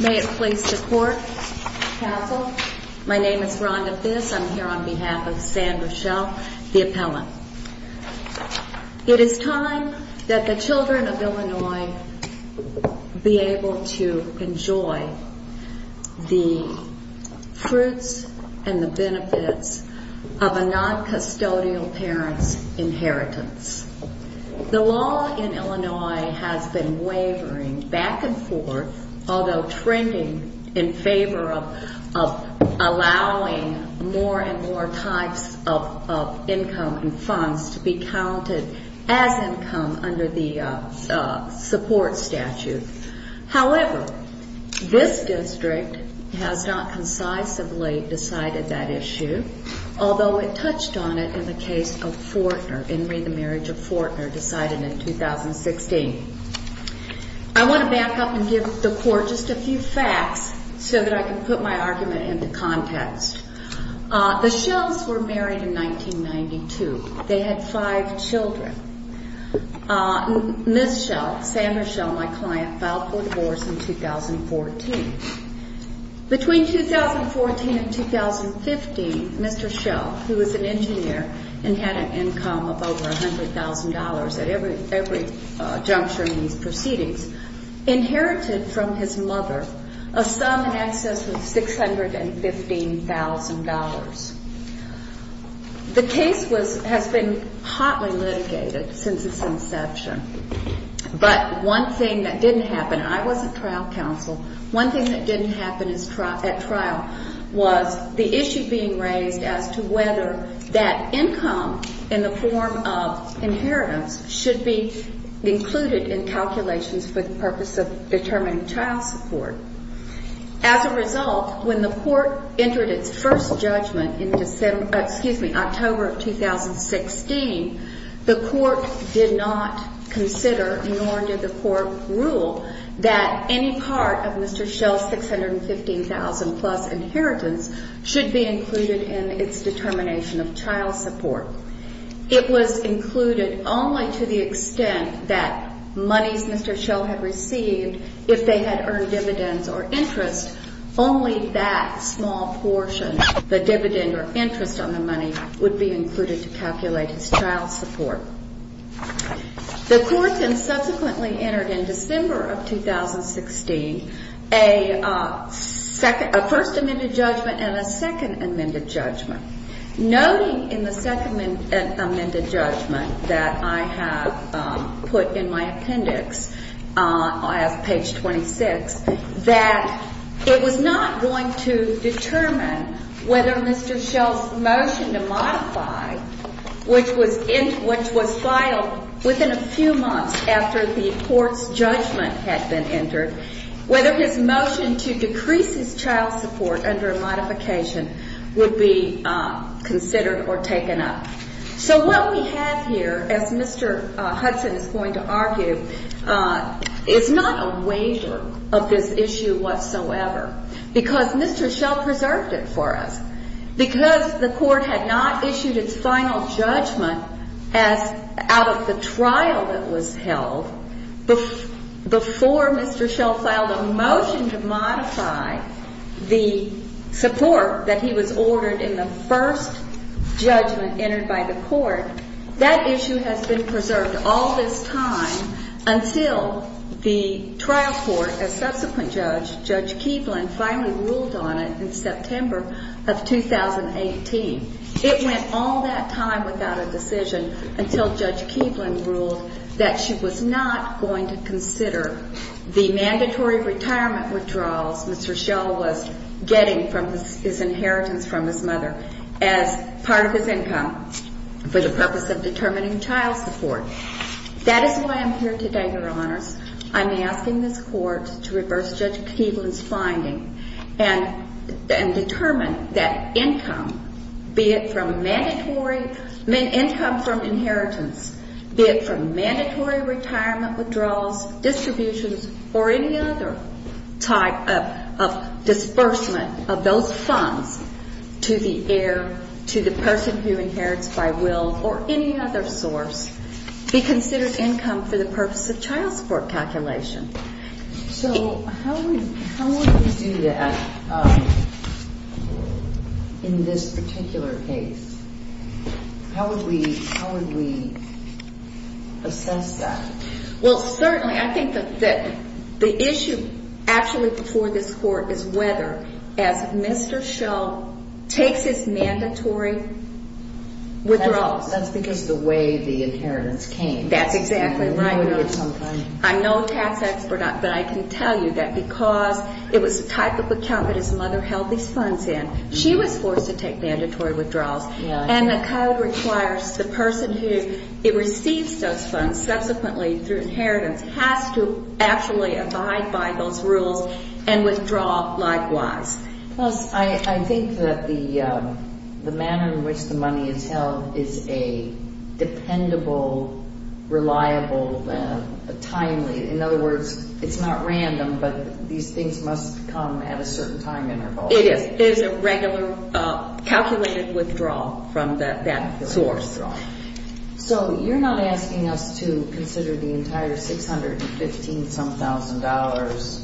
May it please the Court, Counsel, my name is Rhonda Thiss, I'm here on behalf of San Michel, the appellant. It is time that the children of Illinois be able to enjoy the fruits and the benefits of a non-custodial parent's inheritance. The law in Illinois has been wavering back and forth, although trending in favor of allowing more and more types of income and funds to be counted as income under the support statute. However, this district has not concisely decided that issue, although it touched on it in the case of Fortner, in re the Marriage of Fortner, decided in 2016. I want to back up and give the Court just a few facts so that I can put my argument into context. The Schells were married in 1992. They had five children. Ms. Schell, San Michel, my client, filed for divorce in 2014. Between 2014 and 2015, Mr. Schell, who was an engineer and had an income of over $615,000 from his mother, a sum in excess of $615,000. The case has been hotly litigated since its inception, but one thing that didn't happen, and I wasn't trial counsel, one thing that didn't happen at trial was the issue being raised as to whether that income in the form of inheritance should be included in calculations for the purpose of determining child support. As a result, when the Court entered its first judgment in October of 2016, the Court did not consider, nor did the Court rule, that any part of Mr. Schell's $615,000 plus inheritance should be included in its determination of child support. It was included only to the extent that monies Mr. Schell had received, if they had earned dividends or interest, only that small portion, the dividend or interest on the money, would be included to calculate his child support. The Court then subsequently entered in December of 2016 a first amended judgment and a second amended judgment, noting in the second amended judgment that I have put in my appendix, I have page 26, that it was not going to determine whether Mr. Schell's motion to modify, which was filed within a few months after the Court's judgment had been entered, whether his motion to decrease his child support under a modification would be considered or taken up. So what we have here, as Mr. Hudson is going to argue, is not a waiver of this issue whatsoever, because Mr. Schell preserved it for us. Because the Court had not issued its final judgment as out of the trial that was held before Mr. Schell filed a motion to modify the support that he was ordered in the first judgment entered by the Court, that issue has been preserved all this time until the trial court, a subsequent judge, Judge Keeblin, finally ruled on it in September of 2018. It went all that time without a decision until Judge Keeblin ruled that she was not going to consider the mandatory retirement withdrawals Mr. Schell was getting from his inheritance from his mother as part of his income for the purpose of determining child support. That is why I'm here today, Your Honors. I'm asking this Court to reverse Judge Keeblin's finding and determine that income, be it from mandatory income from inheritance, be it from mandatory retirement withdrawals, distributions, or any other type of disbursement of those funds to the heir, to the person who inherits by will, or any other source, be considered income for the purpose of child support calculation. So how would we do that in this particular case? How would we assess that? Well, certainly, I think that the issue actually before this Court is whether, as Mr. Schell takes his mandatory withdrawals. That's because of the way the inheritance came. That's exactly right. I'm no tax expert, but I can tell you that because it was the type of account that his mother held these funds in, she was forced to take mandatory withdrawals. And the Code requires the person who receives those funds subsequently through inheritance has to actually abide by those rules and withdraw likewise. Plus, I think that the manner in which the money is held is a dependable, reliable, timely – in other words, it's not random, but these things must come at a certain time interval. It is. It is a regular, calculated withdrawal from that source. So you're not asking us to consider the entire $615,000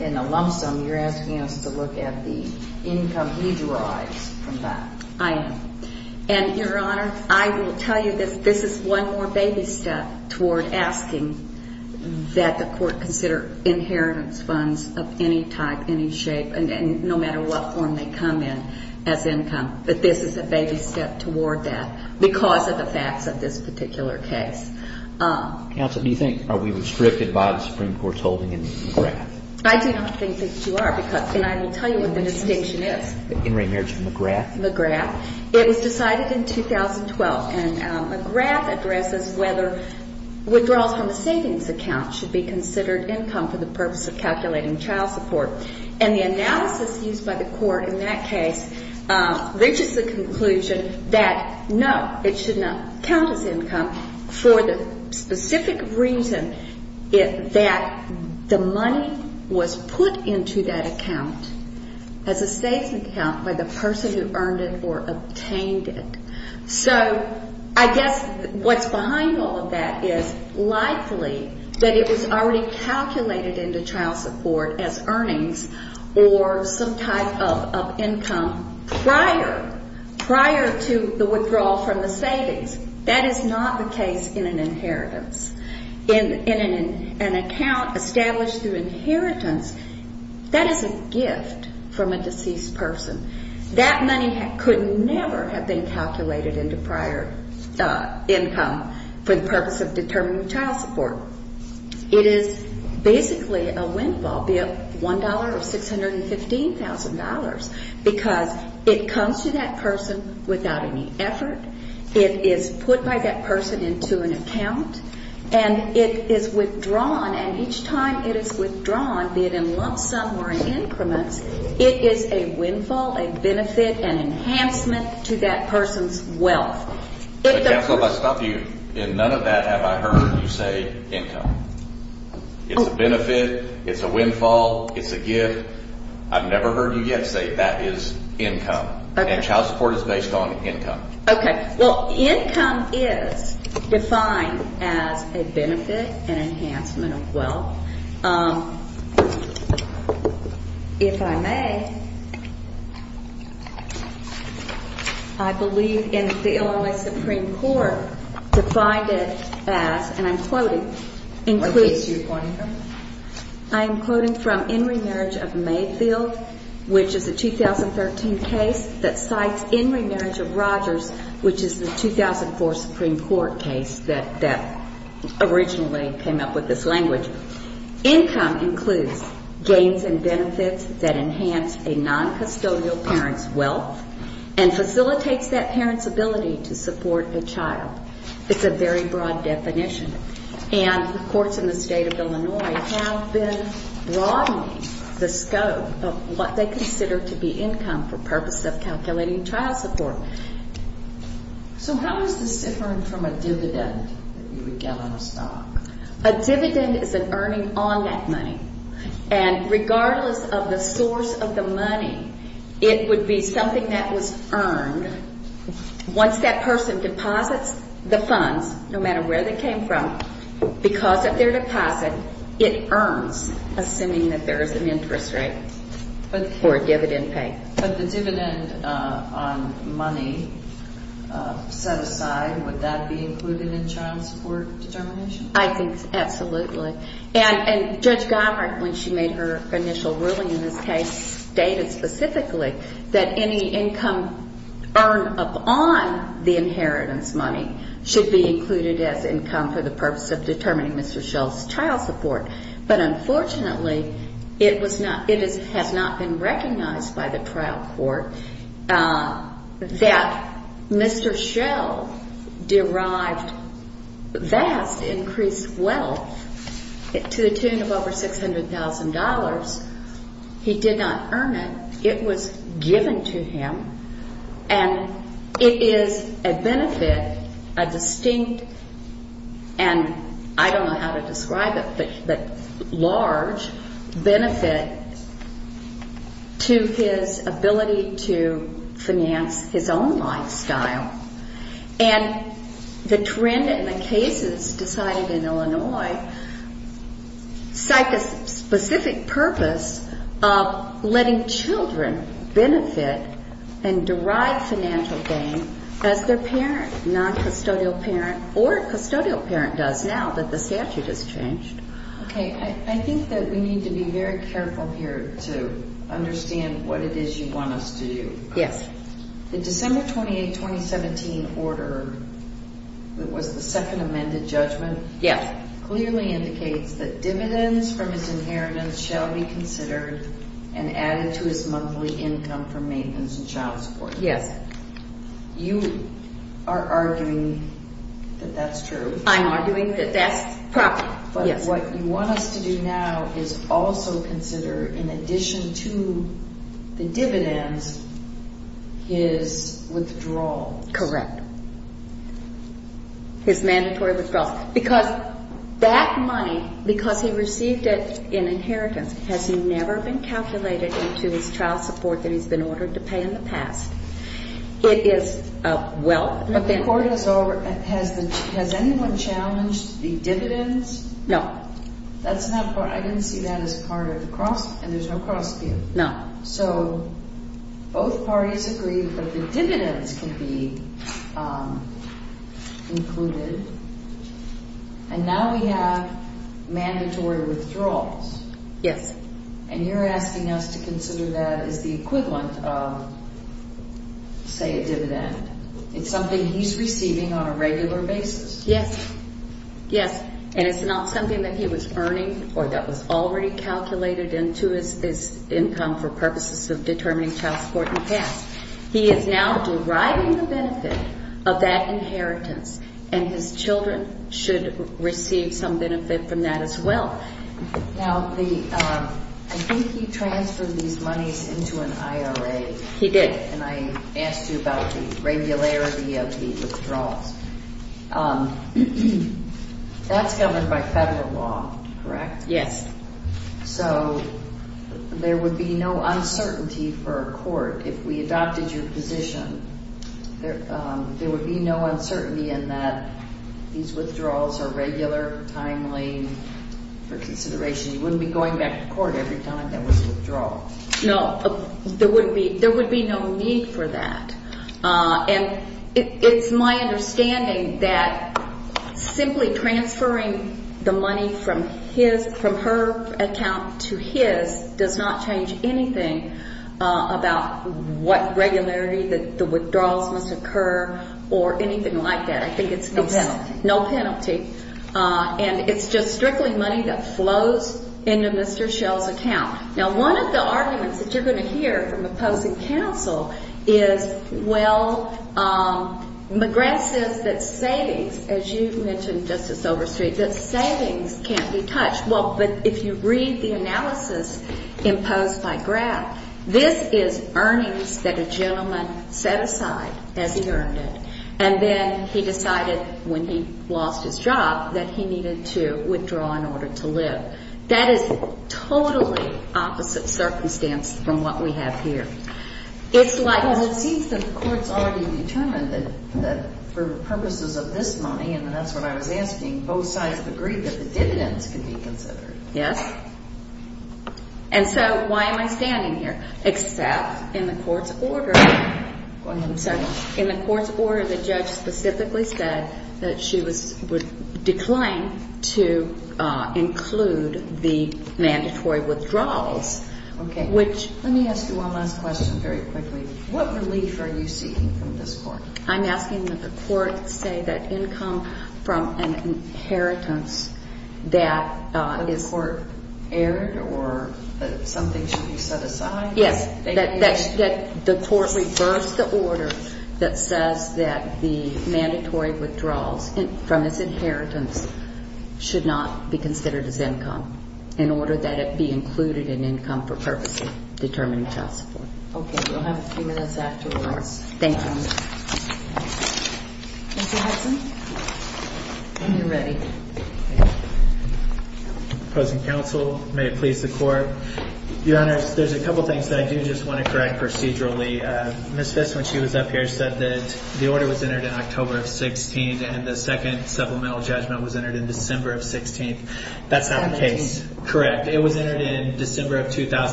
in a lump sum. You're asking us to look at the income he derives from that. I am. And, Your Honor, I will tell you that this is one more baby step toward asking that the Court consider inheritance funds of any type, any shape, and no matter what form they come in as income. But this is a baby step toward that because of the facts of this particular case. Counsel, do you think are we restricted by the Supreme Court's holding in the grant? I do not think that you are. And I will tell you what the distinction is. In remerge for McGrath? McGrath. It was decided in 2012. And McGrath addresses whether withdrawals from a savings account should be considered income for the purpose of calculating child support. And the analysis used by the Court in that case, there's just a conclusion that, no, it should not count as income for the specific reason that the money was put into that account as a savings account by the person who earned it or obtained it. So I guess what's behind all of that is likely that it was already calculated into child support as earnings or some type of income prior, prior to the withdrawal from the savings. That is not the case in an inheritance. In an account established through inheritance, that is a gift from a deceased person. That money could never have been calculated into prior income for the purpose of determining child support. It is basically a windfall, be it $1 or $615,000, because it comes to that person without any effort. It is put by that person into an account. And it is withdrawn. And each time it is withdrawn, be it in lump sum or in increments, it is a windfall, a benefit, an enhancement to that person's wealth. If I stop you, in none of that have I heard you say income. It's a benefit. It's a windfall. It's a gift. I've never heard you yet say that is income. And child support is based on income. Okay. Well, income is defined as a benefit, an enhancement of wealth. If I may, I believe in the Illinois Supreme Court defined it as, and I'm quoting, What case are you quoting from? I am quoting from In Remarriage of Mayfield, which is a 2013 case that cites In Remarriage of Rogers, which is the 2004 Supreme Court case that originally came up with this language. Income includes gains and benefits that enhance a noncustodial parent's wealth and facilitates that parent's ability to support a child. It's a very broad definition. And the courts in the state of Illinois have been broadening the scope of what they consider to be income for purposes of calculating child support. So how is this different from a dividend that you would get on a stock? A dividend is an earning on that money. And regardless of the source of the money, it would be something that was earned. Once that person deposits the funds, no matter where they came from, because of their deposit, it earns, assuming that there is an interest rate for a dividend pay. But the dividend on money set aside, would that be included in child support determination? I think absolutely. And Judge Geimert, when she made her initial ruling in this case, stated specifically that any income earned upon the inheritance money should be included as income for the purpose of determining Mr. Schell's child support. But unfortunately, it has not been recognized by the trial court that Mr. Schell derived vast increased wealth to the tune of over $600,000. He did not earn it. It was given to him. And it is a benefit, a distinct, and I don't know how to describe it, but large benefit to his ability to finance his own lifestyle. And the trend in the cases decided in Illinois, cite the specific purpose of letting children benefit and derive financial gain as their parent, non-custodial parent, or custodial parent does now that the statute has changed. Okay. I think that we need to be very careful here to understand what it is you want us to do. Yes. The December 28, 2017 order that was the second amended judgment... Yes. ...clearly indicates that dividends from his inheritance shall be considered and added to his monthly income for maintenance and child support. Yes. You are arguing that that's true. I'm arguing that that's proper. Yes. But what you want us to do now is also consider, in addition to the dividends, his withdrawal. Correct. His mandatory withdrawal. Because that money, because he received it in inheritance, has never been calculated into his child support that he's been ordered to pay in the past. It is a wealth... But the court has over... Has anyone challenged the dividends? No. That's not part... I didn't see that as part of the cross... And there's no cross here. No. So both parties agree that the dividends can be included. And now we have mandatory withdrawals. Yes. And you're asking us to consider that as the equivalent of, say, a dividend. It's something he's receiving on a regular basis. Yes. Yes. And it's not something that he was earning or that was already calculated into his income for purposes of determining child support in the past. He is now deriving the benefit of that inheritance, and his children should receive some benefit from that as well. Now, the... I think he transferred these monies into an IRA. He did. And I asked you about the regularity of the withdrawals. That's governed by federal law, correct? Yes. So there would be no uncertainty for a court if we adopted your position. There would be no uncertainty in that these withdrawals are regular, timely, for consideration. You wouldn't be going back to court every time there was a withdrawal. No. There would be no need for that. And it's my understanding that simply transferring the money from his... from her account to his does not change anything about what regularity the withdrawals must occur or anything like that. I think it's... No penalty. No penalty. And it's just strictly money that flows into Mr. Schell's account. Now, one of the arguments that you're going to hear from opposing counsel is, well, McGrath says that savings, as you've mentioned, Justice Overstreet, that savings can't be touched. Well, but if you read the analysis imposed by Grath, this is earnings that a gentleman set aside as he earned it. And then he decided when he lost his job that he needed to withdraw in order to live. That is totally opposite circumstance from what we have here. It's like... Yes. And so why am I standing here? Except in the court's order... Go ahead. I'm sorry. In the court's order, the judge specifically said that she was... would decline to include the mandatory withdrawals, which... Okay. Let me ask you one last question very quickly. What relief are you seeking from this court? I'm asking that the court say that income from an inheritance that is... The court erred or that something should be set aside? Yes. That the court reverse the order that says that the mandatory withdrawals from his inheritance should not be considered as income in order that it be included in income for purpose of determining child support. Okay. You'll have a few minutes afterwards. Thank you. Mr. Hudson? When you're ready. Opposing counsel, may it please the court. Your Honor, there's a couple of things that I do just want to correct procedurally. Ms. Fisk, when she was up here, said that the order was entered in October of 16th and the second supplemental judgment was entered in December of 16th. That's not the case. 17th.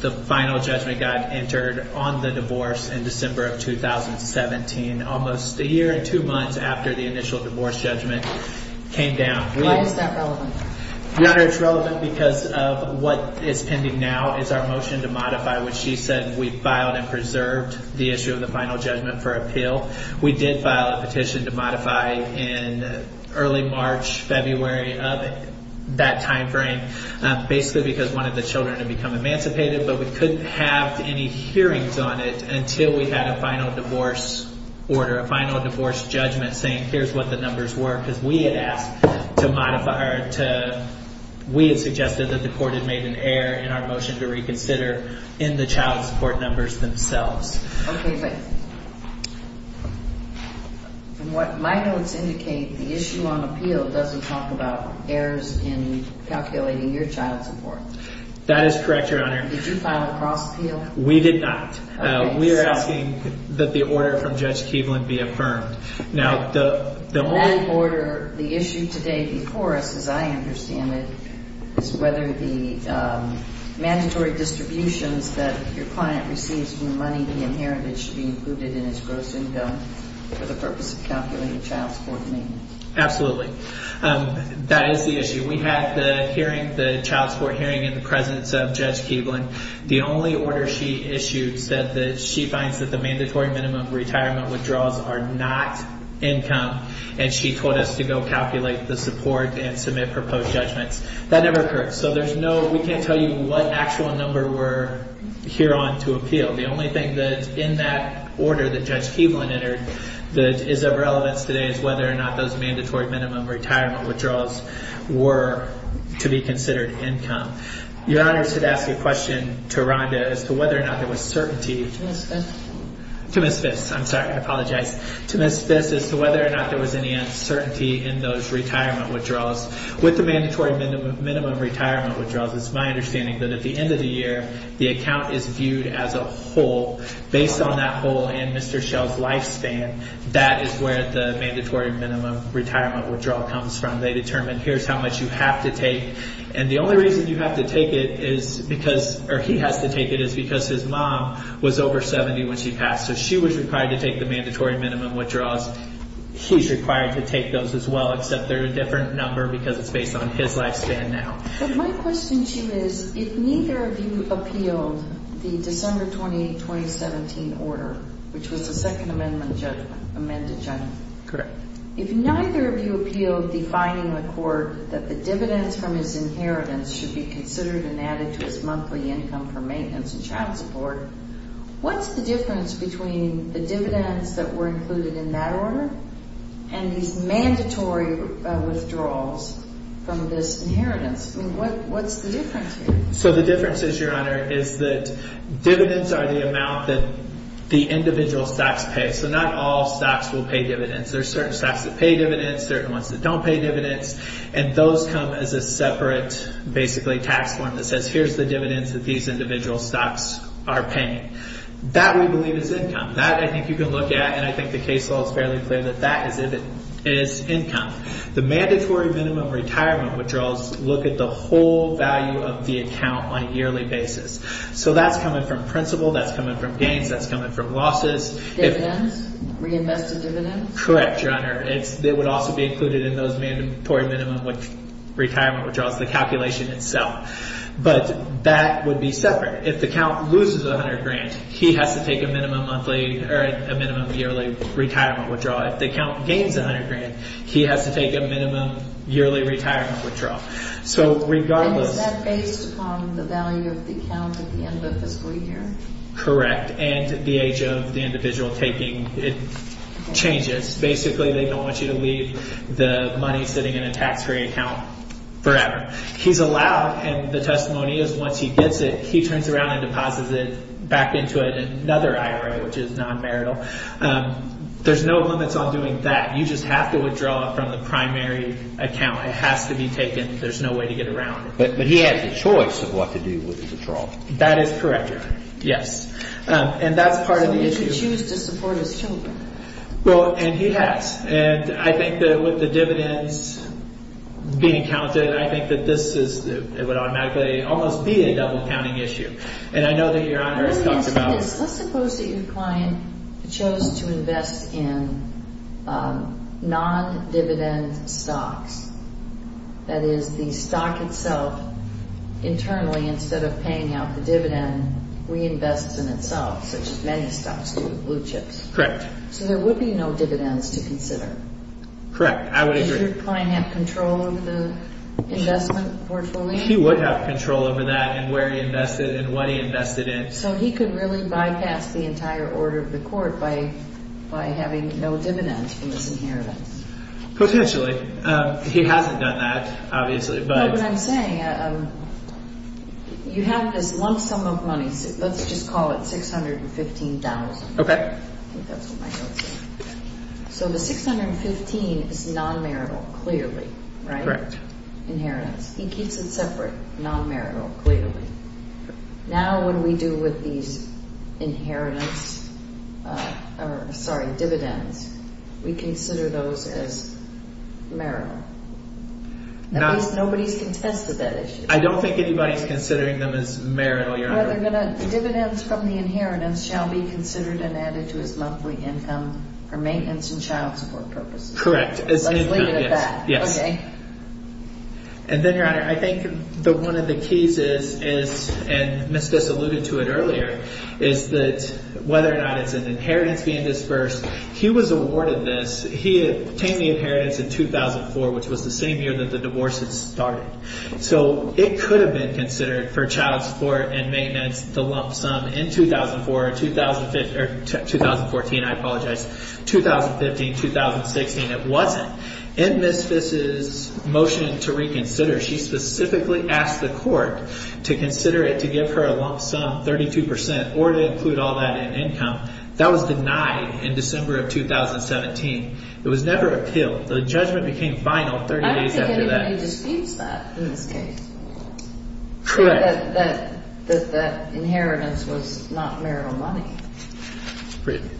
The final judgment got entered on the divorce in December of 2017, almost a year and two months after the initial divorce judgment came down. Why is that relevant? Your Honor, it's relevant because of what is pending now is our motion to modify, which she said we filed and preserved the issue of the final judgment for appeal. We did file a petition to modify in early March, February of that timeframe, basically because one of the children had become emancipated, but we couldn't have any hearings on it until we had a final divorce order, a final divorce judgment saying here's what the numbers were because we had asked to modify, or we had suggested that the court had made an error in our motion to reconsider in the child support numbers themselves. Okay. But from what my notes indicate, the issue on appeal doesn't talk about errors in calculating your child support. That is correct, Your Honor. Did you file a cross appeal? We did not. Okay. We are asking that the order from Judge Keevlin be affirmed. Okay. Now, the only- That order, the issue today before us, as I understand it, is whether the mandatory distributions that your client receives from the money he inherited should be included in his gross income for the purpose of calculating child support maintenance. Absolutely. That is the issue. We had the hearing, the child support hearing in the presence of Judge Keevlin. The only order she issued said that she finds that the mandatory minimum retirement withdrawals are not income, and she told us to go calculate the support and submit proposed judgments. That never occurred, so there's no- We can't tell you what actual number we're here on to appeal. The only thing that's in that order that Judge Keevlin entered that is of relevance today is whether or not those mandatory minimum retirement withdrawals were to be considered income. Your Honor, I should ask a question to Rhonda as to whether or not there was certainty- To Ms. Fiss. To Ms. Fiss. I'm sorry. I apologize. To Ms. Fiss, as to whether or not there was any uncertainty in those retirement withdrawals. With the mandatory minimum retirement withdrawals, it's my understanding that at the end of the year, the account is viewed as a whole. retirement withdrawal comes from. They determine, here's how much you have to take. And the only reason you have to take it is because, or he has to take it, is because his mom was over 70 when she passed. So she was required to take the mandatory minimum withdrawals. He's required to take those as well, except they're a different number because it's based on his lifespan now. But my question to you is, if neither of you appealed the December 28, 2017 order, which was the Second Amendment judgment, amended generally. Correct. If neither of you appealed defining the court that the dividends from his inheritance should be considered and added to his monthly income for maintenance and child support, what's the difference between the dividends that were included in that order and these mandatory withdrawals from this inheritance? I mean, what's the difference here? So the difference is, Your Honor, is that dividends are the amount that the individual stocks pay. So not all stocks will pay dividends. There are certain stocks that pay dividends, certain ones that don't pay dividends. And those come as a separate basically tax form that says, here's the dividends that these individual stocks are paying. That we believe is income. That I think you can look at, and I think the case law is fairly clear that that is income. The mandatory minimum retirement withdrawals look at the whole value of the account on a yearly basis. So that's coming from principal, that's coming from gains, that's coming from losses. Dividends? Reinvested dividends? Correct, Your Honor. It would also be included in those mandatory minimum retirement withdrawals, the calculation itself. But that would be separate. If the account loses $100,000, he has to take a minimum yearly retirement withdrawal. If the account gains $100,000, he has to take a minimum yearly retirement withdrawal. And is that based upon the value of the account at the end of the fiscal year? Correct, and the age of the individual taking it changes. Basically, they don't want you to leave the money sitting in a tax-free account forever. He's allowed, and the testimony is once he gets it, he turns around and deposits it back into another IRA, which is non-marital. There's no limits on doing that. You just have to withdraw from the primary account. It has to be taken. There's no way to get around it. But he has a choice of what to do with his withdrawal. That is correct, Your Honor. Yes, and that's part of the issue. So he could choose to support his children. Well, and he has. And I think that with the dividends being counted, I think that this would automatically almost be a double-counting issue. And I know that Your Honor has talked about it. Let's suppose that your client chose to invest in non-dividend stocks, that is, the stock itself internally, instead of paying out the dividend, reinvests in itself, such as many stocks do with blue chips. Correct. So there would be no dividends to consider. Correct. I would agree. Would your client have control of the investment portfolio? He would have control over that and where he invested and what he invested in. So he could really bypass the entire order of the court by having no dividends from this inheritance. Potentially. He hasn't done that, obviously. But what I'm saying, you have this lump sum of money. Let's just call it $615,000. Okay. I think that's what my notes say. So the $615,000 is non-marital, clearly, right? Correct. Inheritance. He keeps it separate, non-marital, clearly. Now what do we do with these dividends? We consider those as marital. At least nobody has contested that issue. I don't think anybody is considering them as marital, Your Honor. The dividends from the inheritance shall be considered and added to his monthly income for maintenance and child support purposes. Correct. Let's leave it at that. Yes. Okay. And then, Your Honor, I think one of the keys is, and Ms. Fiss alluded to it earlier, is that whether or not it's an inheritance being disbursed. He was awarded this. He obtained the inheritance in 2004, which was the same year that the divorce had started. So it could have been considered for child support and maintenance, the lump sum, in 2004, or 2014. I apologize. 2015, 2016. It wasn't. In Ms. Fiss's motion to reconsider, she specifically asked the court to consider it to give her a lump sum, 32%, or to include all that in income. That was denied in December of 2017. It was never appealed. The judgment became final 30 days after that. I don't think anybody disputes that in this case. Correct. That the inheritance was not marital money.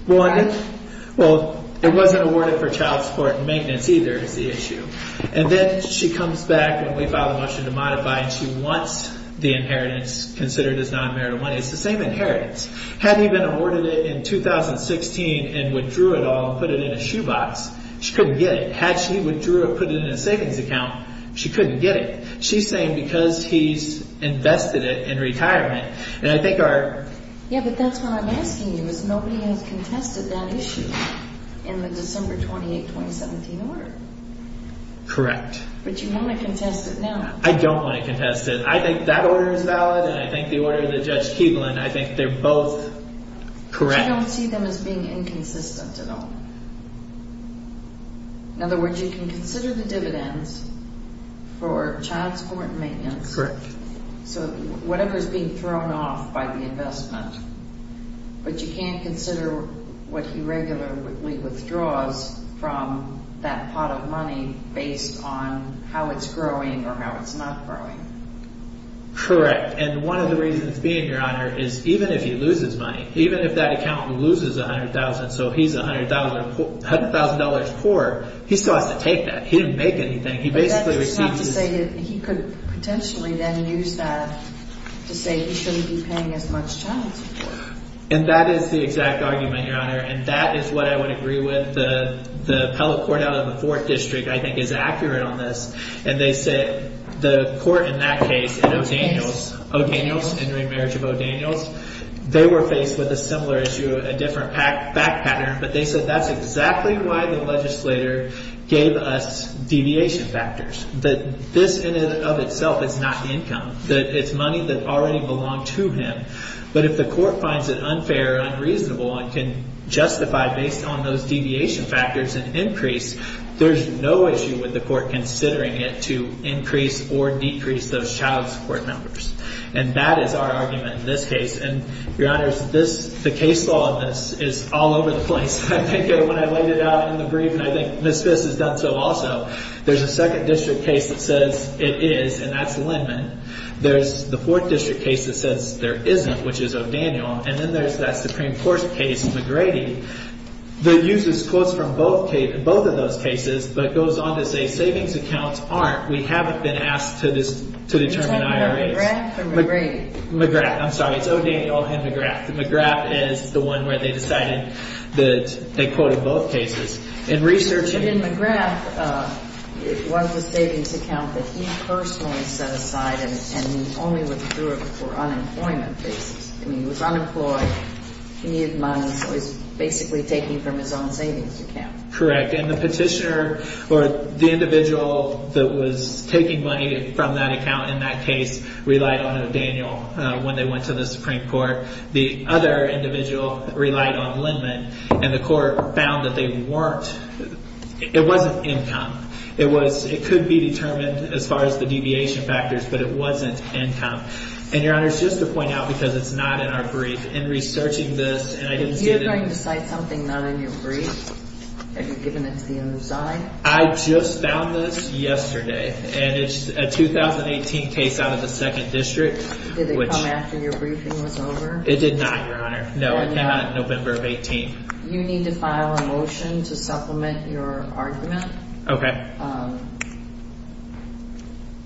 Well, it wasn't awarded for child support and maintenance either. And then she comes back, and we file a motion to modify, and she wants the inheritance considered as non-marital money. It's the same inheritance. Had he been awarded it in 2016 and withdrew it all and put it in a shoebox, she couldn't get it. Had she withdrew it and put it in a savings account, she couldn't get it. She's saying because he's invested it in retirement. Yeah, but that's what I'm asking you, is nobody has contested that issue in the December 28, 2017 order. Correct. But you want to contest it now. I don't want to contest it. I think that order is valid, and I think the order that Judge Keeblin, I think they're both correct. I don't see them as being inconsistent at all. In other words, you can consider the dividends for child support and maintenance. Correct. So whatever is being thrown off by the investment, but you can't consider what he regularly withdraws from that pot of money based on how it's growing or how it's not growing. Correct, and one of the reasons being, Your Honor, is even if he loses money, even if that accountant loses $100,000, so he's $100,000 poor, he still has to take that. He didn't make anything. He could potentially then use that to say he shouldn't be paying as much child support. And that is the exact argument, Your Honor, and that is what I would agree with. The appellate court out of the 4th District, I think, is accurate on this. And they said the court in that case, in O'Daniels, O'Daniels, entering marriage of O'Daniels, they were faced with a similar issue, a different back pattern. But they said that's exactly why the legislator gave us deviation factors, that this in and of itself is not income, that it's money that already belonged to him. But if the court finds it unfair or unreasonable and can justify based on those deviation factors an increase, there's no issue with the court considering it to increase or decrease those child support numbers. And that is our argument in this case. And, Your Honor, the case law in this is all over the place. I think when I laid it out in the brief, and I think Ms. Fiss has done so also, there's a 2nd District case that says it is, and that's Lindman. There's the 4th District case that says there isn't, which is O'Daniels. And then there's that Supreme Court case, McGrady, that uses quotes from both of those cases but goes on to say savings accounts aren't. We haven't been asked to determine IRAs. Is that McGrath or McGrady? McGrath, I'm sorry. It's O'Daniels and McGrath. McGrath is the one where they decided that they quoted both cases. But in McGrath, it was a savings account that he personally set aside and he only withdrew it for unemployment reasons. I mean, he was unemployed, he needed money, so he's basically taking from his own savings account. Correct. And the petitioner or the individual that was taking money from that account in that case relied on O'Daniels when they went to the Supreme Court. The other individual relied on Lindman, and the court found that they weren't – it wasn't income. It was – it could be determined as far as the deviation factors, but it wasn't income. And, Your Honors, just to point out, because it's not in our brief, in researching this, and I didn't see the – Did you bring to cite something not in your brief? Have you given it to the other side? I just found this yesterday, and it's a 2018 case out of the 2nd District, which – It did not, Your Honor. No, it did not. November of 18th. You need to file a motion to supplement your argument. Okay.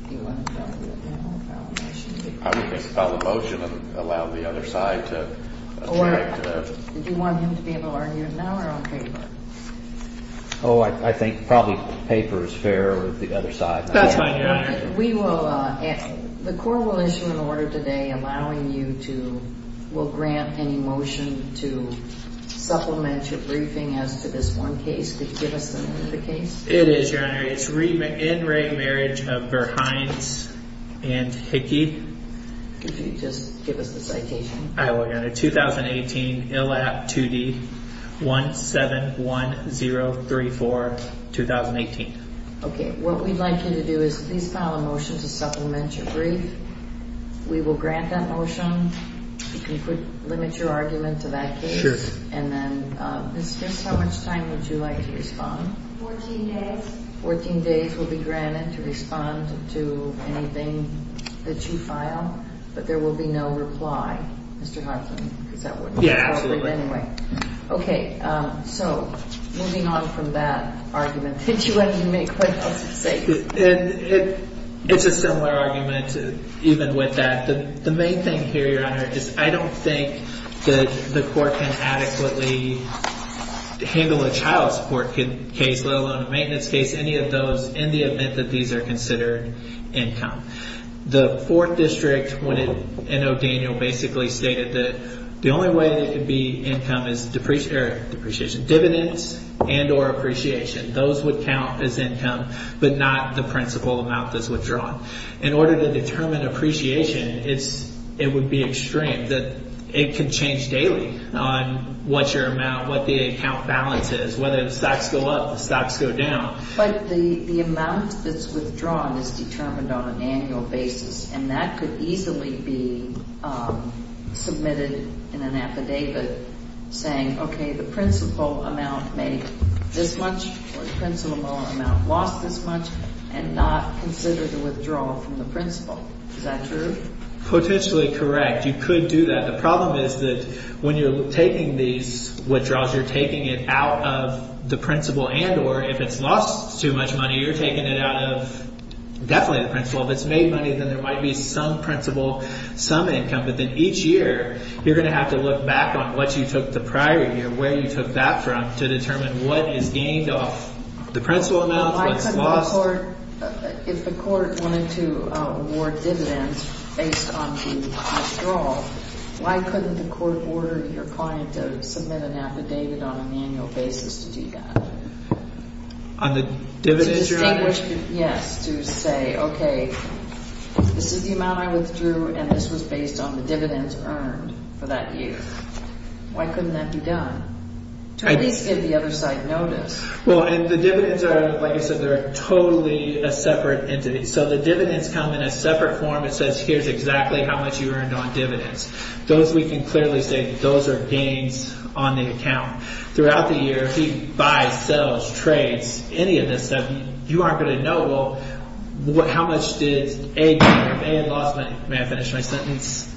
Do you want to file a motion? I would just file a motion and allow the other side to – Or do you want him to be able to argue it now or on paper? Oh, I think probably paper is fairer with the other side. That's fine, Your Honor. We will – the court will issue an order today allowing you to – will grant any motion to supplement your briefing as to this one case. Could you give us the name of the case? It is, Your Honor. It's In Re Marriage of Verhines and Hickey. Could you just give us the citation? I will, Your Honor. 2018, ILAP 2D 171034, 2018. Okay. What we'd like you to do is please file a motion to supplement your brief. We will grant that motion. If you could limit your argument to that case. Sure. And then just how much time would you like to respond? Fourteen days. Fourteen days will be granted to respond to anything that you file, but there will be no reply, Mr. Hartman, because that wouldn't be appropriate anyway. Yeah, absolutely. Okay. So moving on from that argument, did you want to make what else to say? It's a similar argument even with that. The main thing here, Your Honor, is I don't think that the court can adequately handle a child support case, let alone a maintenance case, any of those, in the event that these are considered income. The Fourth District in O'Daniel basically stated that the only way it could be income is depreciation, dividends and or appreciation. Those would count as income, but not the principal amount that's withdrawn. In order to determine appreciation, it would be extreme. It could change daily on what your amount, what the account balance is, whether the stocks go up, the stocks go down. But the amount that's withdrawn is determined on an annual basis, and that could easily be submitted in an affidavit saying, okay, the principal amount made this much or the principal amount lost this much and not consider the withdrawal from the principal. Is that true? Potentially correct. You could do that. The problem is that when you're taking these withdrawals, you're taking it out of the principal and or if it's lost too much money, you're taking it out of definitely the principal. If it's made money, then there might be some principal, some income, but then each year you're going to have to look back on what you took the prior year, where you took that from to determine what is gained off the principal amounts, what's lost. If the court wanted to award dividends based on the withdrawal, why couldn't the court order your client to submit an affidavit on an annual basis to do that? On the dividends you're on? Yes, to say, okay, this is the amount I withdrew and this was based on the dividends earned for that year. Why couldn't that be done? To at least give the other side notice. Well, and the dividends are, like I said, they're totally a separate entity. So the dividends come in a separate form. It says here's exactly how much you earned on dividends. Those we can clearly say that those are gains on the account. Throughout the year, if he buys, sells, trades, any of this stuff, you aren't going to know, well, how much did A gain? If A had lost money, may I finish my sentence?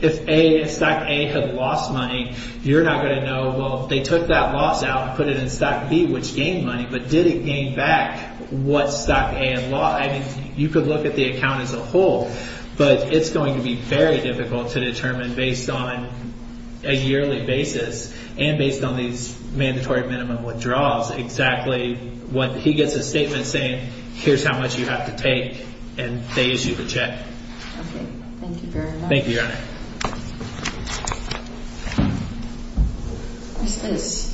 If A, if Stock A had lost money, you're not going to know, well, they took that loss out and put it in Stock B, which gained money, but did it gain back what Stock A had lost? You could look at the account as a whole, but it's going to be very difficult to determine based on a yearly basis and based on these mandatory minimum withdrawals exactly what he gets a statement saying, here's how much you have to take, and they issue the check. Okay. Thank you very much. Thank you, Your Honor. What's this?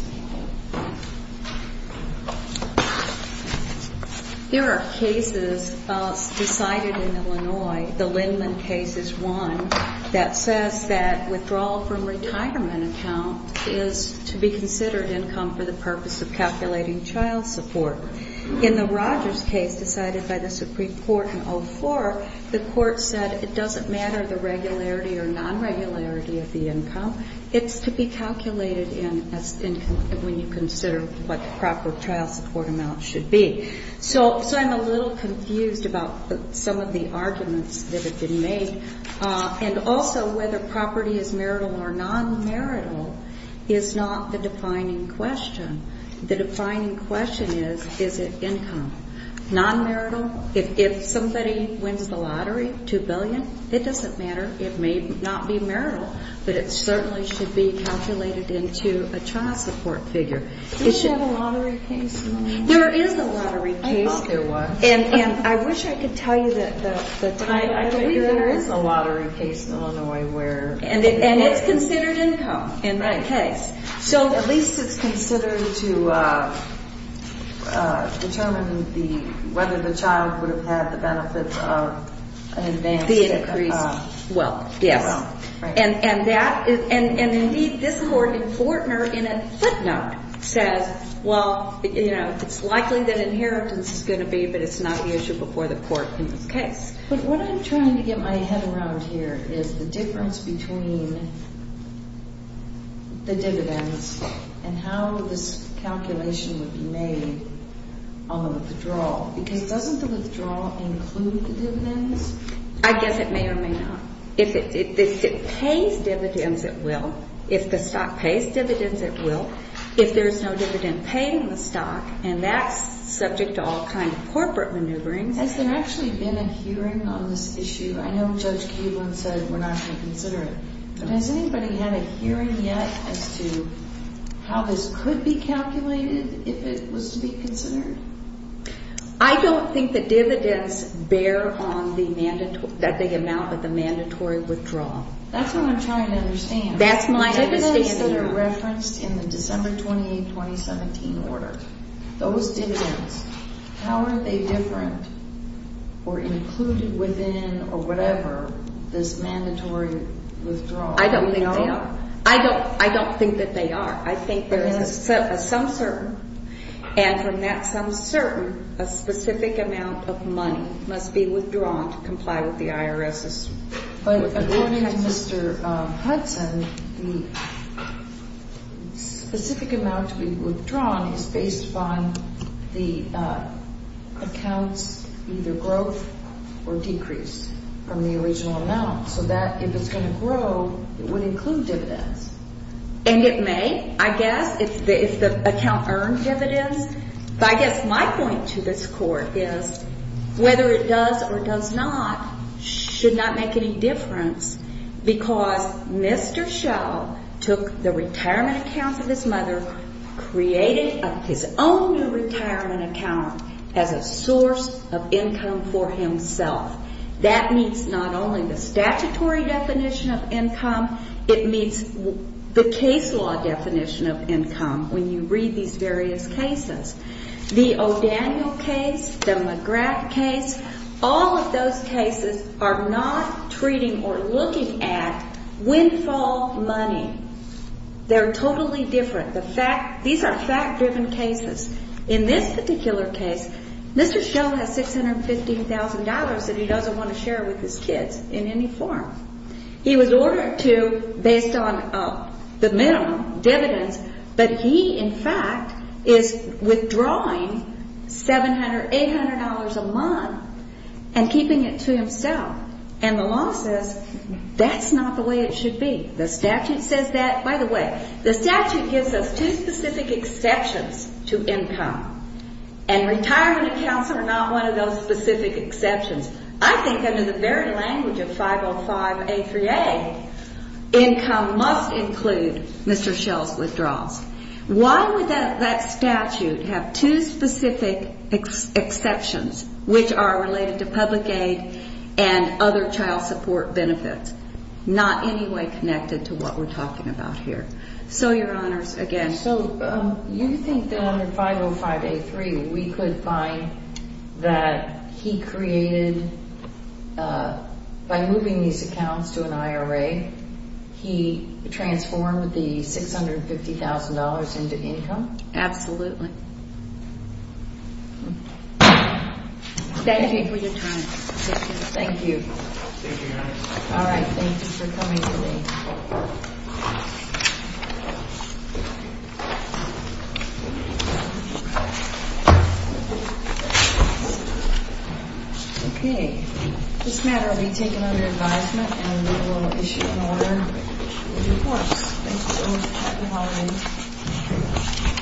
There are cases decided in Illinois. The Lindman case is one that says that withdrawal from retirement account is to be considered income for the purpose of calculating child support. In the Rogers case decided by the Supreme Court in 2004, the court said it doesn't matter the regularity or non-regularity of the income. It's to be calculated when you consider what the proper child support amount should be. So I'm a little confused about some of the arguments that have been made, and also whether property is marital or non-marital is not the defining question. The defining question is, is it income? Non-marital, if somebody wins the lottery, $2 billion, it doesn't matter. It may not be marital, but it certainly should be calculated into a child support figure. Is there a lottery case in Illinois? There is a lottery case. I thought there was. And I wish I could tell you the time. There is a lottery case in Illinois. And it's considered income in that case. At least it's considered to determine whether the child would have had the benefit of an advance. The increase. Well, yes. And, indeed, this court in Fortner, in a footnote, says, well, it's likely that inheritance is going to be, but it's not the issue before the court in this case. But what I'm trying to get my head around here is the difference between the dividends and how this calculation would be made on the withdrawal. Because doesn't the withdrawal include the dividends? I guess it may or may not. If it pays dividends, it will. If the stock pays dividends, it will. If there's no dividend paid in the stock, and that's subject to all kinds of corporate maneuvering. Has there actually been a hearing on this issue? I know Judge Keeblin said we're not going to consider it. But has anybody had a hearing yet as to how this could be calculated if it was to be considered? I don't think the dividends bear on the amount of the mandatory withdrawal. That's what I'm trying to understand. That's my understanding. The dividends that are referenced in the December 28, 2017 order, those dividends, how are they different or included within or whatever this mandatory withdrawal? I don't think they are. I don't think that they are. I think there is a sum certain. And from that sum certain, a specific amount of money must be withdrawn to comply with the IRS's withdrawal. But according to Mr. Hudson, the specific amount to be withdrawn is based upon the account's either growth or decrease from the original amount. So if it's going to grow, it would include dividends. And it may, I guess, if the account earned dividends. But I guess my point to this Court is whether it does or does not should not make any difference because Mr. Schell took the retirement accounts of his mother, created his own new retirement account as a source of income for himself. It meets the case law definition of income when you read these various cases. The O'Daniel case, the McGrath case, all of those cases are not treating or looking at windfall money. They're totally different. These are fact-driven cases. In this particular case, Mr. Schell has $650,000 that he doesn't want to share with his kids in any form. He was ordered to based on the minimum dividends. But he, in fact, is withdrawing $700, $800 a month and keeping it to himself. And the law says that's not the way it should be. The statute says that. By the way, the statute gives us two specific exceptions to income. And retirement accounts are not one of those specific exceptions. I think under the very language of 505A3A, income must include Mr. Schell's withdrawals. Why would that statute have two specific exceptions which are related to public aid and other child support benefits, not any way connected to what we're talking about here? So, Your Honors, again. So you think that under 505A3 we could find that he created, by moving these accounts to an IRA, he transformed the $650,000 into income? Absolutely. Thank you. Thank you for your time. Thank you. Thank you, Your Honors. All right. Thank you for coming today. Okay. This matter will be taken under advisement and we will issue an order with your courts. Thank you so much. Happy holidays.